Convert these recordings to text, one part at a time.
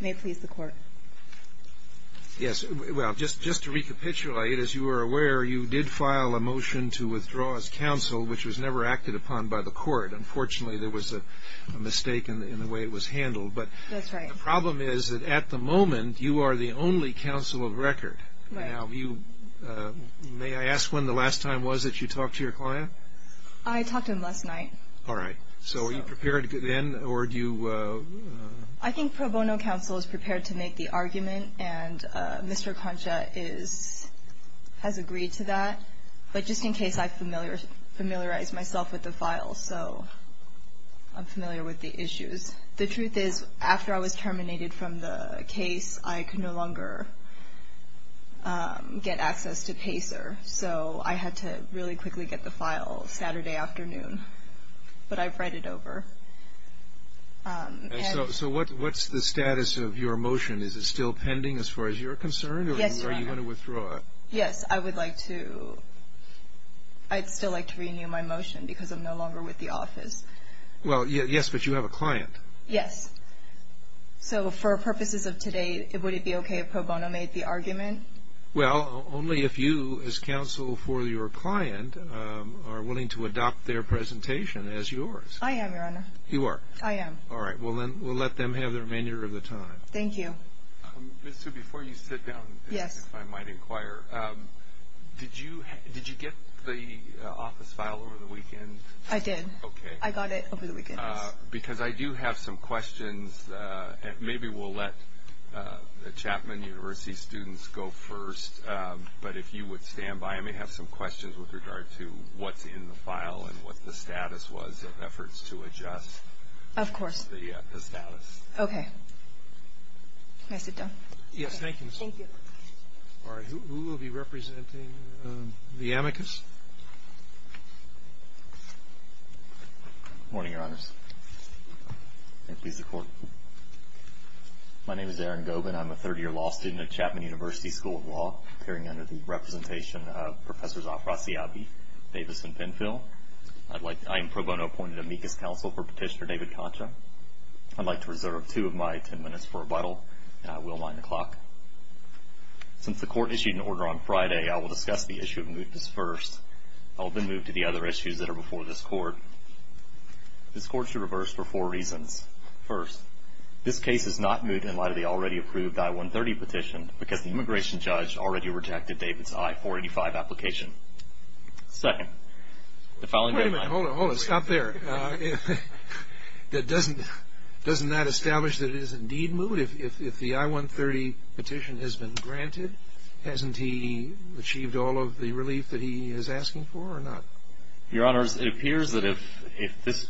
May it please the court. Yes. Well, just to recapitulate, as you are aware, you did file a motion to withdraw as counsel, which was never acted upon by the court. Unfortunately, there was a mistake in the way it was handled. That's right. But the problem is that at the moment you are the only counsel of record. Right. Now, may I ask when the last time was that you talked to your client? I talked to him last night. All right. So are you prepared then, or do you… I think pro bono counsel is prepared to make the argument, and Mr. Concha has agreed to that. But just in case, I've familiarized myself with the file, so I'm familiar with the issues. The truth is, after I was terminated from the case, I could no longer get access to PACER, so I had to really quickly get the file Saturday afternoon. But I've read it over. So what's the status of your motion? Is it still pending as far as you're concerned? Yes, Your Honor. Or do you want to withdraw it? Yes, I would like to. I'd still like to renew my motion because I'm no longer with the office. Well, yes, but you have a client. Yes. So for purposes of today, would it be okay if pro bono made the argument? Well, only if you, as counsel for your client, are willing to adopt their presentation as yours. I am, Your Honor. You are? I am. All right. Well, then we'll let them have the remainder of the time. Thank you. Ms. Hsu, before you sit down, if I might inquire, did you get the office file over the weekend? I did. Okay. I got it over the weekend. Because I do have some questions. Maybe we'll let the Chapman University students go first, but if you would stand by, I may have some questions with regard to what's in the file and what the status was of efforts to adjust. Of course. The status. Okay. May I sit down? Yes. Thank you, Ms. Hsu. Thank you. All right. Who will be representing the amicus? Good morning, Your Honors. And please, the Court. My name is Aaron Gobin. I'm a third-year law student at Chapman University School of Law, appearing under the representation of Professors Afrasiabi, Davis, and Penfield. I am pro bono appointed amicus counsel for Petitioner David Concha. I'd like to reserve two of my ten minutes for rebuttal, and I will wind the clock. Since the Court issued an order on Friday, I will discuss the issue of mootness first. I will then move to the other issues that are before this Court. This Court should reverse for four reasons. First, this case is not moot in light of the already-approved I-130 petition because the immigration judge already rejected David's I-485 application. Second, the following day my- Wait a minute. Hold it. Hold it. Stop there. Doesn't that establish that it is indeed moot? If the I-130 petition has been granted, hasn't he achieved all of the relief that he is asking for or not? Your Honors, it appears that if this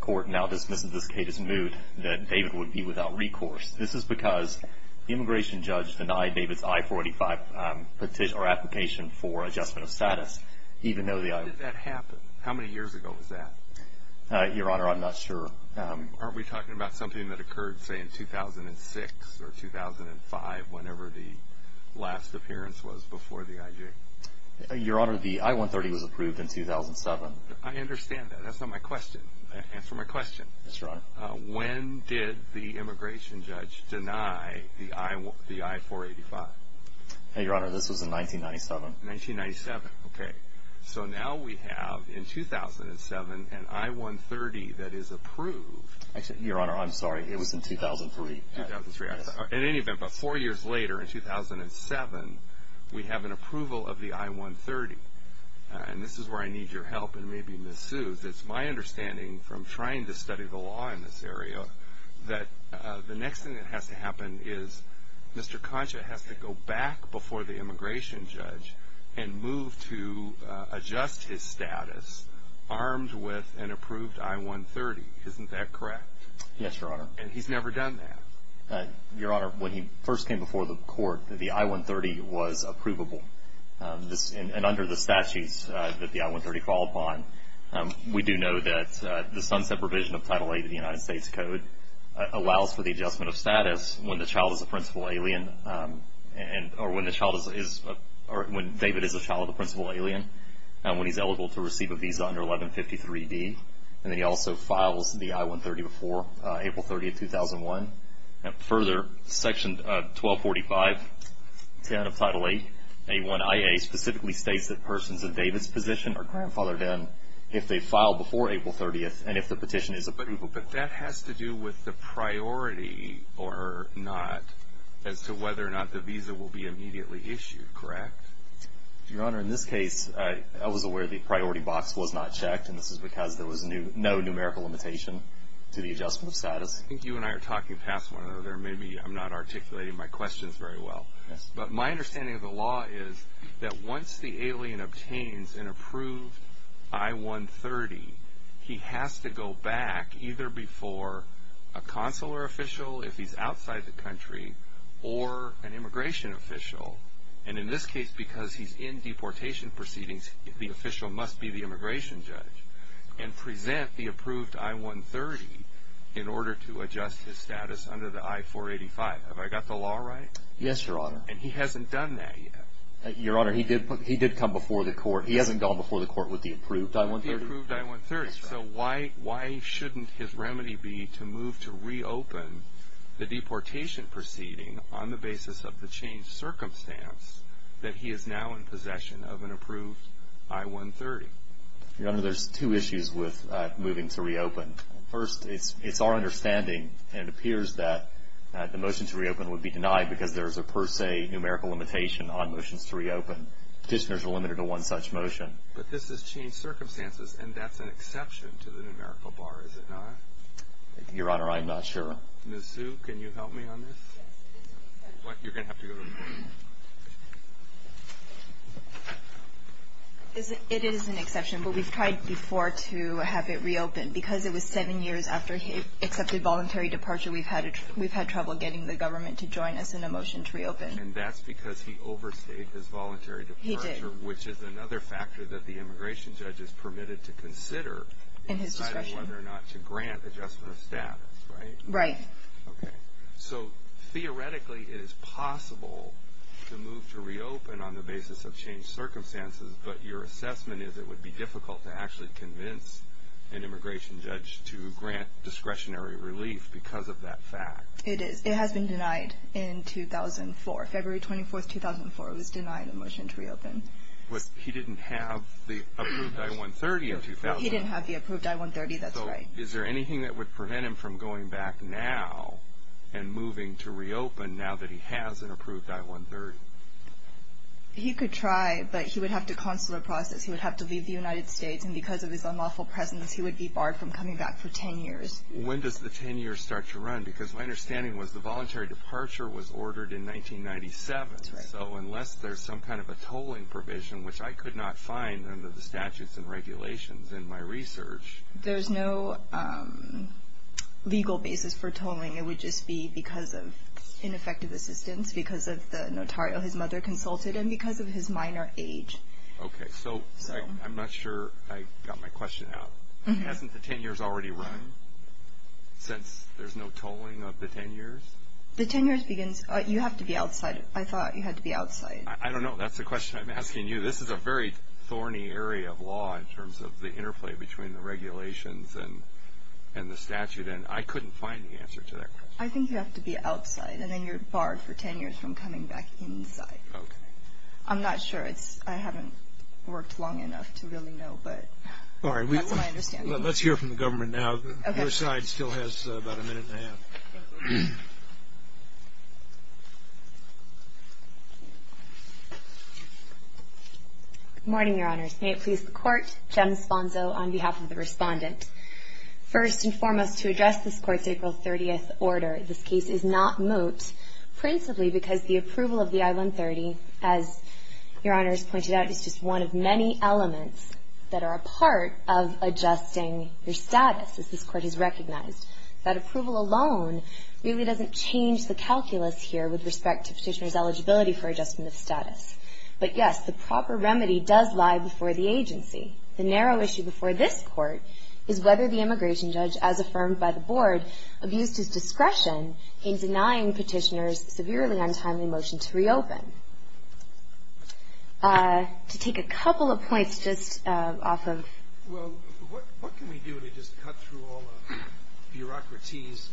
Court now dismisses this case as moot, that David would be without recourse. This is because the immigration judge denied David's I-485 petition or application for adjustment of status, even though the I- When did that happen? How many years ago was that? Your Honor, I'm not sure. Aren't we talking about something that occurred, say, in 2006 or 2005, whenever the last appearance was before the IJ? Your Honor, the I-130 was approved in 2007. I understand that. That's not my question. Answer my question. Yes, Your Honor. When did the immigration judge deny the I-485? Your Honor, this was in 1997. 1997. Okay. So now we have, in 2007, an I-130 that is approved. Your Honor, I'm sorry. It was in 2003. 2003. In any event, about four years later, in 2007, we have an approval of the I-130. And this is where I need your help, and maybe Ms. Seuss. It's my understanding, from trying to study the law in this area, that the next thing that has to happen is Mr. Concha has to go back before the immigration judge and move to adjust his status, armed with an approved I-130. Isn't that correct? Yes, Your Honor. And he's never done that? Your Honor, when he first came before the court, the I-130 was approvable. And under the statutes that the I-130 fall upon, we do know that the sunset provision of Title VIII of the United States Code allows for the adjustment of status when the child is a principal alien, or when David is a child of a principal alien, and when he's eligible to receive a visa under 1153D. And then he also files the I-130 before April 30, 2001. And further, Section 1245, 10 of Title VIII, A1IA, specifically states that persons in David's position are grandfathered in if they file before April 30th and if the petition is approved. But that has to do with the priority or not as to whether or not the visa will be immediately issued, correct? Your Honor, in this case, I was aware the priority box was not checked, and this is because there was no numerical limitation to the adjustment of status. I think you and I are talking past one another. Maybe I'm not articulating my questions very well. But my understanding of the law is that once the alien obtains an approved I-130, he has to go back either before a consular official, if he's outside the country, or an immigration official. And in this case, because he's in deportation proceedings, the official must be the immigration judge and present the approved I-130 in order to adjust his status under the I-485. Have I got the law right? Yes, Your Honor. And he hasn't done that yet. Your Honor, he did come before the court. He hasn't gone before the court with the approved I-130. With the approved I-130. So why shouldn't his remedy be to move to reopen the deportation proceeding on the basis of the changed circumstance that he is now in possession of an approved I-130? Your Honor, there's two issues with moving to reopen. First, it's our understanding, and it appears that the motion to reopen would be denied because there is a per se numerical limitation on motions to reopen. Petitioners are limited to one such motion. But this has changed circumstances, and that's an exception to the numerical bar, is it not? Your Honor, I'm not sure. Ms. Zhu, can you help me on this? You're going to have to go to me. It is an exception, but we've tried before to have it reopened. Because it was seven years after he accepted voluntary departure, we've had trouble getting the government to join us in a motion to reopen. And that's because he overstayed his voluntary departure. He did. Which is another factor that the immigration judge is permitted to consider in deciding whether or not to grant adjustment of status, right? Right. Okay. So theoretically it is possible to move to reopen on the basis of changed circumstances, but your assessment is it would be difficult to actually convince an immigration judge to grant discretionary relief because of that fact. It is. It has been denied in 2004. February 24, 2004, it was denied a motion to reopen. He didn't have the approved I-130 in 2000. He didn't have the approved I-130, that's right. So is there anything that would prevent him from going back now and moving to reopen now that he has an approved I-130? He could try, but he would have to consular process. He would have to leave the United States, and because of his unlawful presence he would be barred from coming back for 10 years. When does the 10 years start to run? Because my understanding was the voluntary departure was ordered in 1997. That's right. So unless there's some kind of a tolling provision, which I could not find under the statutes and regulations in my research. There's no legal basis for tolling. It would just be because of ineffective assistance, because of the notarial his mother consulted, and because of his minor age. Okay. So I'm not sure I got my question out. Hasn't the 10 years already run since there's no tolling of the 10 years? The 10 years begins. You have to be outside. I thought you had to be outside. I don't know. That's the question I'm asking you. This is a very thorny area of law in terms of the interplay between the regulations and the statute, and I couldn't find the answer to that question. I think you have to be outside, and then you're barred for 10 years from coming back inside. Okay. I'm not sure. I haven't worked long enough to really know, but that's my understanding. All right. Let's hear from the government now. Okay. Your side still has about a minute and a half. Thank you. Good morning, Your Honors. May it please the Court. Jem Sponzo on behalf of the Respondent. First and foremost, to address this Court's April 30th order, this case is not moot principally because the approval of the I-130, as Your Honors pointed out, is just one of many elements that are a part of adjusting your status, as this Court has recognized. That approval alone really doesn't change the calculus here with respect to Petitioner's eligibility for adjustment of status. But, yes, the proper remedy does lie before the agency. The narrow issue before this Court is whether the immigration judge, as affirmed by the Board, abused his discretion in denying Petitioner's severely untimely motion to reopen. To take a couple of points just off of. Well, what can we do to just cut through all the bureaucracies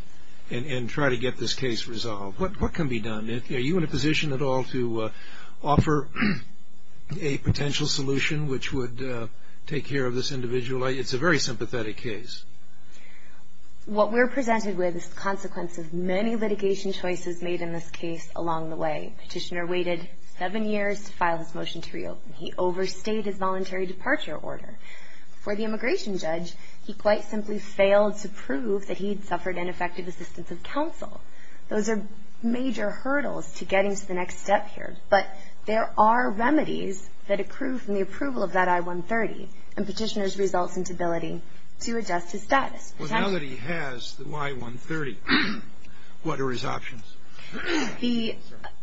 and try to get this case resolved? What can be done? Are you in a position at all to offer a potential solution which would take care of this individual? It's a very sympathetic case. What we're presented with is the consequence of many litigation choices made in this case along the way. Petitioner waited seven years to file his motion to reopen. He overstayed his voluntary departure order. For the immigration judge, he quite simply failed to prove that he'd suffered ineffective assistance of counsel. Those are major hurdles to getting to the next step here. But there are remedies that accrue from the approval of that I-130, and Petitioner's results in stability to adjust his status. Well, now that he has the I-130, what are his options?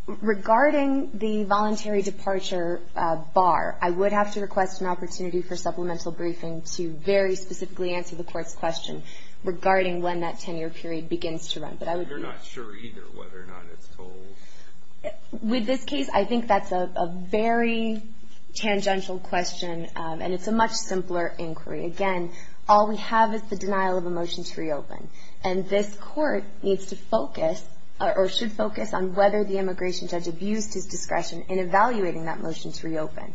Regarding the voluntary departure bar, I would have to request an opportunity for supplemental briefing to very specifically answer the court's question regarding when that 10-year period begins to run. But I would be. You're not sure either whether or not it's told. With this case, I think that's a very tangential question, and it's a much simpler inquiry. And this court needs to focus, or should focus, on whether the immigration judge abused his discretion in evaluating that motion to reopen.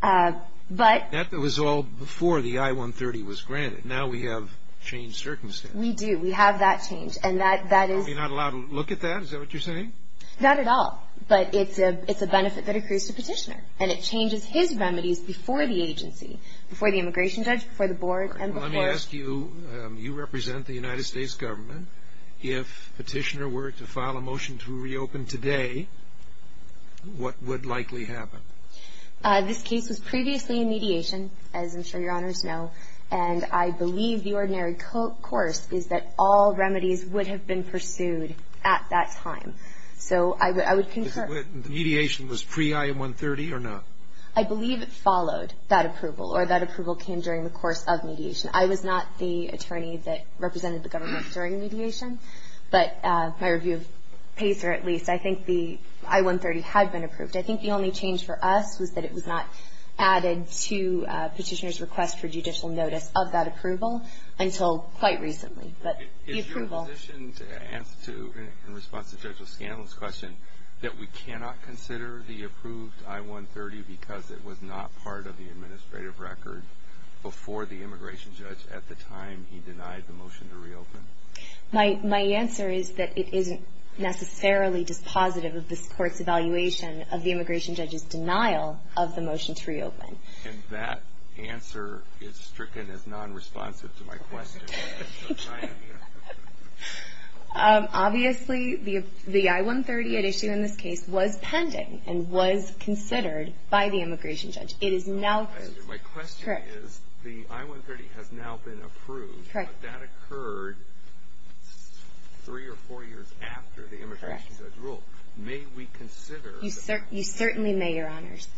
But. That was all before the I-130 was granted. Now we have changed circumstances. We do. We have that change, and that is. Are we not allowed to look at that? Is that what you're saying? Not at all. But it's a benefit that accrues to Petitioner, and it changes his remedies before the agency, before the immigration judge, before the board, and before. I ask you, you represent the United States government. If Petitioner were to file a motion to reopen today, what would likely happen? This case was previously in mediation, as I'm sure your honors know. And I believe the ordinary course is that all remedies would have been pursued at that time. So I would concur. Mediation was pre-I-130 or not? I believe it followed that approval, or that approval came during the course of mediation. I was not the attorney that represented the government during mediation. But my review of PACER, at least, I think the I-130 had been approved. I think the only change for us was that it was not added to Petitioner's request for judicial notice of that approval until quite recently. But the approval. Is your position in response to Judge O'Scanlon's question that we cannot consider the approved I-130 because it was not part of the administrative record before the immigration judge at the time he denied the motion to reopen? My answer is that it isn't necessarily dispositive of this court's evaluation of the immigration judge's denial of the motion to reopen. And that answer is stricken as non-responsive to my question. Obviously, the I-130 at issue in this case was pending and was considered by the immigration judge. It is now approved. My question is, the I-130 has now been approved, but that occurred three or four years after the immigration judge ruled. May we consider? You certainly may, Your Honors.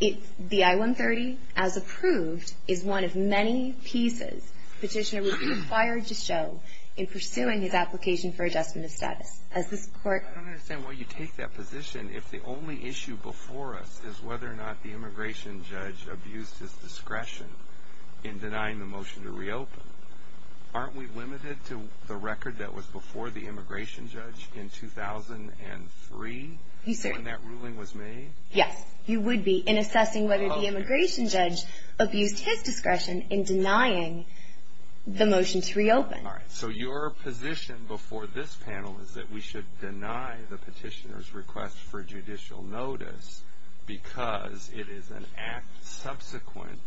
The I-130, as approved, is one of many pieces. Petitioner would be required to show in pursuing his application for adjustment of status. I don't understand why you take that position if the only issue before us is whether or not the immigration judge abused his discretion in denying the motion to reopen. Aren't we limited to the record that was before the immigration judge in 2003 when that ruling was made? Yes, you would be in assessing whether the immigration judge abused his discretion in denying the motion to reopen. All right. So your position before this panel is that we should deny the petitioner's request for judicial notice because it is an act subsequent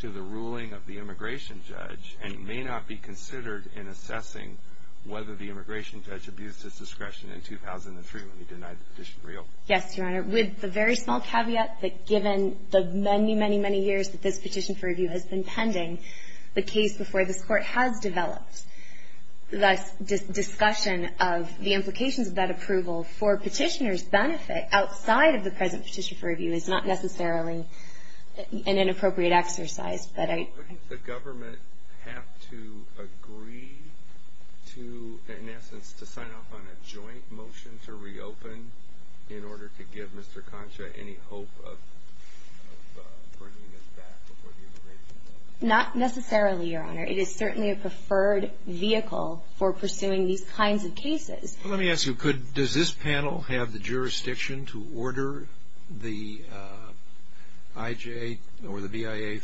to the ruling of the immigration judge and may not be considered in assessing whether the immigration judge abused his discretion in 2003 when he denied the petition to reopen. Yes, Your Honor. With the very small caveat that given the many, many, many years that this petition for review has been pending, the case before this Court has developed, the discussion of the implications of that approval for petitioner's benefit outside of the present petition for review is not necessarily an inappropriate exercise. Does the government have to agree to, in essence, to sign off on a joint motion to reopen in order to give Mr. Concha any hope of bringing it back before the immigration judge? Not necessarily, Your Honor. It is certainly a preferred vehicle for pursuing these kinds of cases. Let me ask you, does this panel have the jurisdiction to order the IJ or the BIA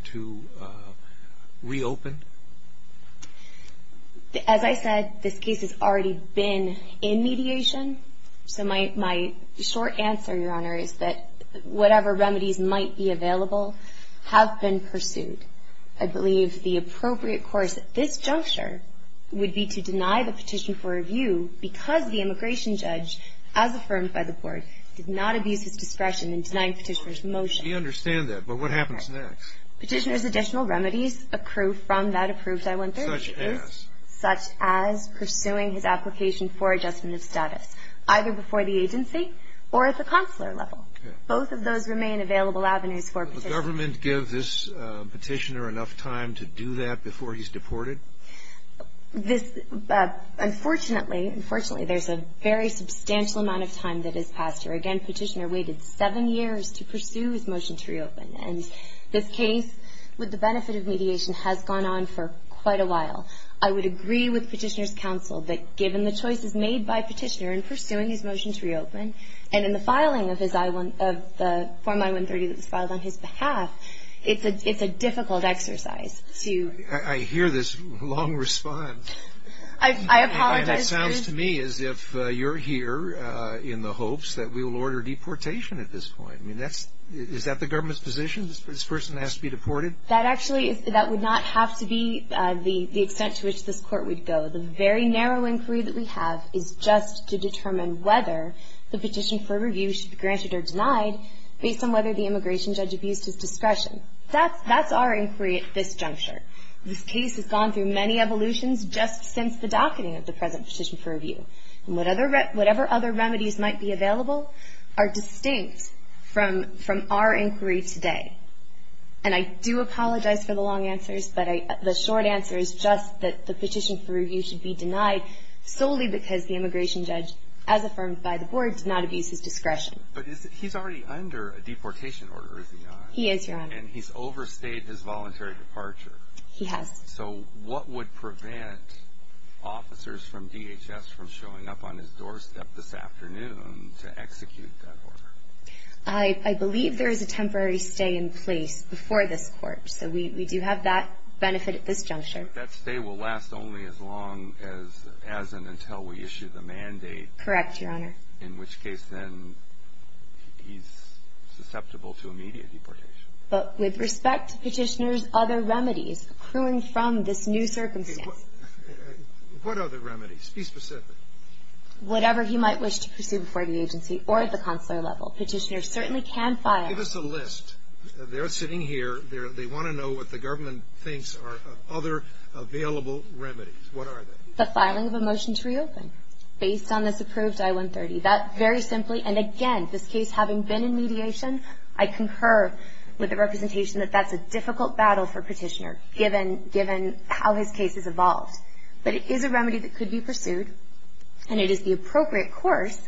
to reopen? As I said, this case has already been in mediation. So my short answer, Your Honor, is that whatever remedies might be available have been pursued. I believe the appropriate course at this juncture would be to deny the petition for review because the immigration judge, as affirmed by the Court, did not abuse his discretion in denying petitioner's motion. We understand that. But what happens next? Petitioner's additional remedies accrue from that approved I-130 case. Such as? Such as pursuing his application for adjustment of status, either before the agency or at the consular level. Both of those remain available avenues for petitioners. Does the government give this petitioner enough time to do that before he's deported? This — unfortunately, unfortunately, there's a very substantial amount of time that is passed here. Again, petitioner waited seven years to pursue his motion to reopen. And this case, with the benefit of mediation, has gone on for quite a while. I would agree with petitioner's counsel that given the choices made by petitioner in pursuing his motion to reopen and in the filing of the form I-130 that was filed on his behalf, it's a difficult exercise to — I hear this long response. I apologize. And it sounds to me as if you're here in the hopes that we will order deportation at this point. I mean, that's — is that the government's position? This person has to be deported? That actually — that would not have to be the extent to which this Court would go. The very narrow inquiry that we have is just to determine whether the petition for review should be granted or denied based on whether the immigration judge abused his discretion. That's our inquiry at this juncture. This case has gone through many evolutions just since the docketing of the present petition for review. And whatever other remedies might be available are distinct from our inquiry today. And I do apologize for the long answers, but the short answer is just that the petition for review should be denied solely because the immigration judge, as affirmed by the Board, did not abuse his discretion. But he's already under a deportation order, is he not? He is, Your Honor. And he's overstayed his voluntary departure. He has. So what would prevent officers from DHS from showing up on his doorstep this afternoon to execute that order? I believe there is a temporary stay in place before this Court. So we do have that benefit at this juncture. But that stay will last only as long as and until we issue the mandate. Correct, Your Honor. In which case, then, he's susceptible to immediate deportation. But with respect to Petitioner's other remedies accruing from this new circumstance. What other remedies? Be specific. Whatever he might wish to pursue before the agency or at the consular level. Petitioner certainly can file. Give us a list. They're sitting here. They want to know what the government thinks are other available remedies. What are they? The filing of a motion to reopen based on this approved I-130. That, very simply. And, again, this case having been in mediation, I concur with the representation that that's a difficult battle for Petitioner given how his case has evolved. But it is a remedy that could be pursued. And it is the appropriate course,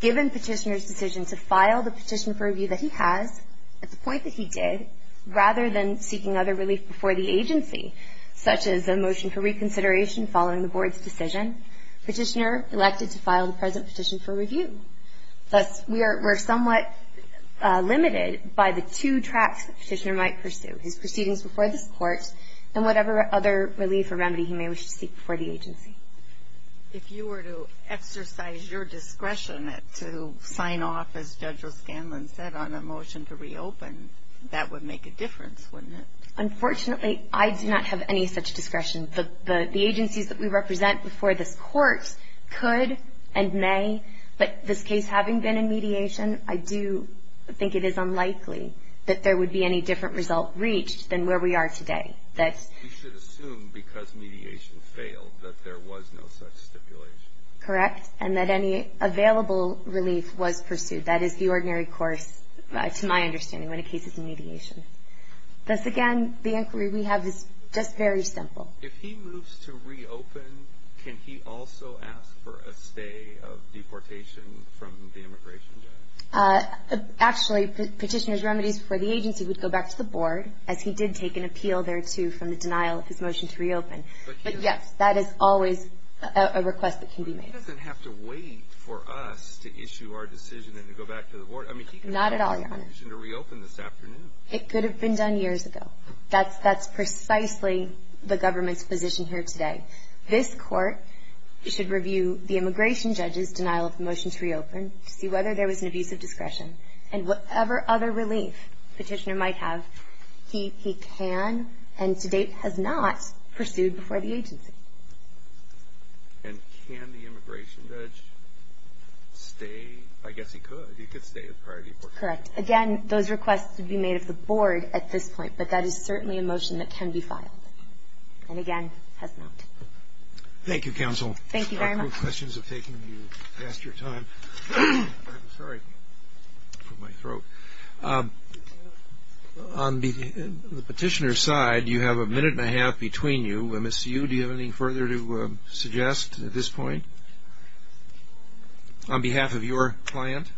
given Petitioner's decision to file the petition for review that he has, at the point that he did, rather than seeking other relief before the agency, such as a motion for reconsideration following the Board's decision. Petitioner elected to file the present petition for review. Thus, we're somewhat limited by the two tracks that Petitioner might pursue. His proceedings before this Court and whatever other relief or remedy he may wish to seek before the agency. If you were to exercise your discretion to sign off, as Judge O'Scanlan said, on a motion to reopen, that would make a difference, wouldn't it? Unfortunately, I do not have any such discretion. The agencies that we represent before this Court could and may, but this case having been in mediation, I do think it is unlikely that there would be any different result reached than where we are today. You should assume, because mediation failed, that there was no such stipulation. Correct. And that any available relief was pursued. That is the ordinary course, to my understanding, when a case is in mediation. Thus, again, the inquiry we have is just very simple. If he moves to reopen, can he also ask for a stay of deportation from the immigration judge? Actually, Petitioner's remedies before the agency would go back to the Board, as he did take an appeal there, too, from the denial of his motion to reopen. But, yes, that is always a request that can be made. But he doesn't have to wait for us to issue our decision and to go back to the Board. I mean, he could have had a motion to reopen this afternoon. It could have been done years ago. That's precisely the government's position here today. This Court should review the immigration judge's denial of the motion to reopen to see whether there was an abuse of discretion. And whatever other relief Petitioner might have, he can and to date has not pursued before the agency. And can the immigration judge stay? I guess he could. He could stay with priority deportation. Correct. Again, those requests would be made of the Board at this point, but that is certainly a motion that can be filed. And, again, has not. Thank you, Counsel. Thank you very much. On the Petitioner's side, you have a minute and a half between you. Ms. Hsu, do you have any further to suggest at this point on behalf of your client?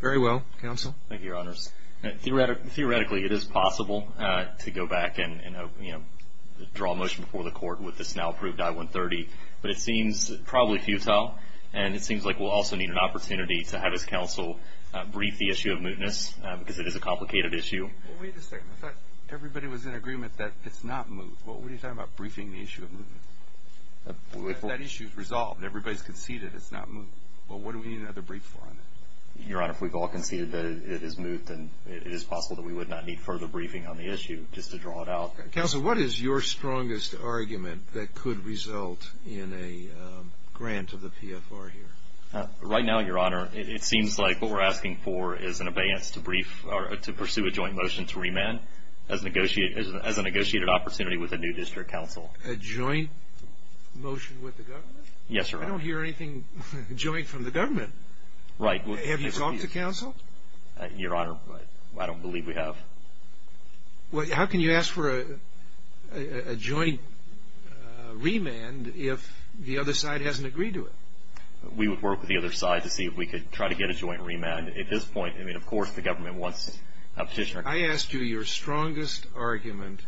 Very well, Counsel. Thank you, Your Honors. Theoretically, it is possible to go back and draw a motion before the Court with this now-approved I-130. But it seems probably futile, and it seems like we'll also need an opportunity to have this Counsel brief the issue of mootness because it is a complicated issue. Wait a second. I thought everybody was in agreement that it's not moot. What are you talking about briefing the issue of mootness? That issue is resolved. Everybody's conceded it's not moot. Well, what do we need another brief for on it? Your Honor, if we've all conceded that it is moot, then it is possible that we would not need further briefing on the issue just to draw it out. Counsel, what is your strongest argument that could result in a grant of the PFR here? Right now, Your Honor, it seems like what we're asking for is an abeyance to pursue a joint motion to remand as a negotiated opportunity with a new district counsel. A joint motion with the government? Yes, Your Honor. I don't hear anything joint from the government. Right. Have you talked to Counsel? Your Honor, I don't believe we have. Well, how can you ask for a joint remand if the other side hasn't agreed to it? We would work with the other side to see if we could try to get a joint remand. At this point, I mean, of course the government wants a petitioner. I ask you your strongest argument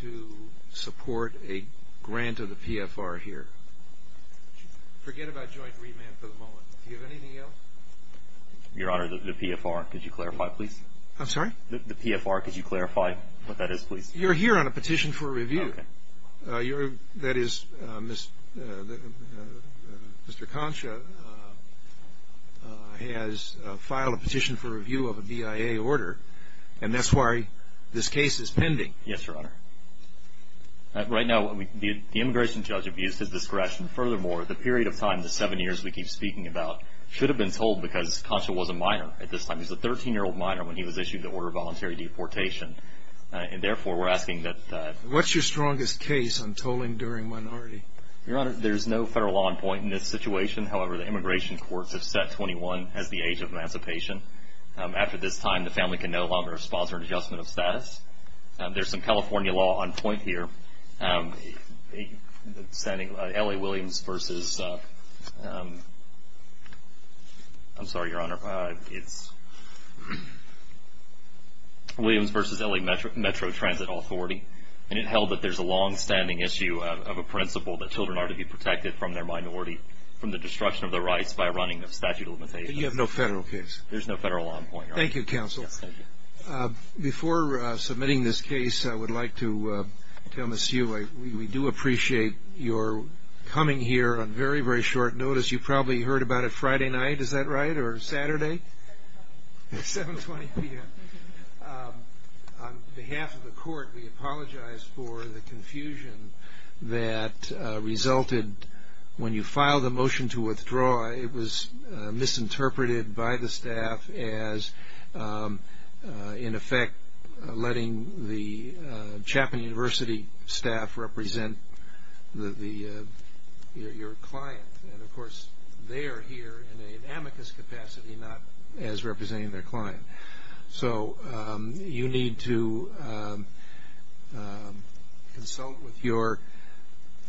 to support a grant of the PFR here. Forget about joint remand for the moment. Do you have anything else? Your Honor, the PFR, could you clarify, please? I'm sorry? The PFR, could you clarify what that is, please? You're here on a petition for review. Okay. That is, Mr. Concha has filed a petition for review of a BIA order, and that's why this case is pending. Yes, Your Honor. Right now, the immigration judge abused his discretion. Furthermore, the period of time, the seven years we keep speaking about, should have been told because Concha was a minor at this time. He was a 13-year-old minor when he was issued the order of voluntary deportation. And, therefore, we're asking that- What's your strongest case on tolling during minority? Your Honor, there's no federal law on point in this situation. However, the immigration courts have set 21 as the age of emancipation. After this time, the family can no longer sponsor an adjustment of status. There's some California law on point here. Standing- L.A. Williams versus- I'm sorry, Your Honor. It's Williams versus L.A. Metro Transit Authority. And it held that there's a longstanding issue of a principle that children are to be protected from their minority, from the destruction of their rights by running of statute of limitations. But you have no federal case? There's no federal law on point, Your Honor. Thank you, Counsel. Yes, thank you. Before submitting this case, I would like to tell Ms. Hugh, we do appreciate your coming here on very, very short notice. You probably heard about it Friday night. Is that right? Or Saturday? 7.20 p.m. 7.20 p.m. On behalf of the court, we apologize for the confusion that resulted when you filed the motion to withdraw. It was misinterpreted by the staff as, in effect, letting the Chapman University staff represent your client. And, of course, they are here in an amicus capacity, not as representing their client. So you need to consult with your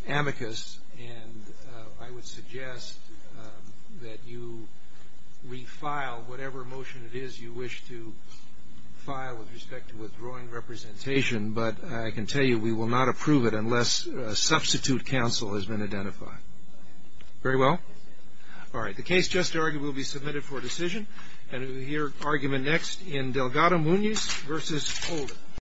amicus. And I would suggest that you refile whatever motion it is you wish to file with respect to withdrawing representation. But I can tell you we will not approve it unless a substitute counsel has been identified. Very well? All right. The case just argued will be submitted for decision. And we'll hear argument next in Delgado-Muñiz v. Holder.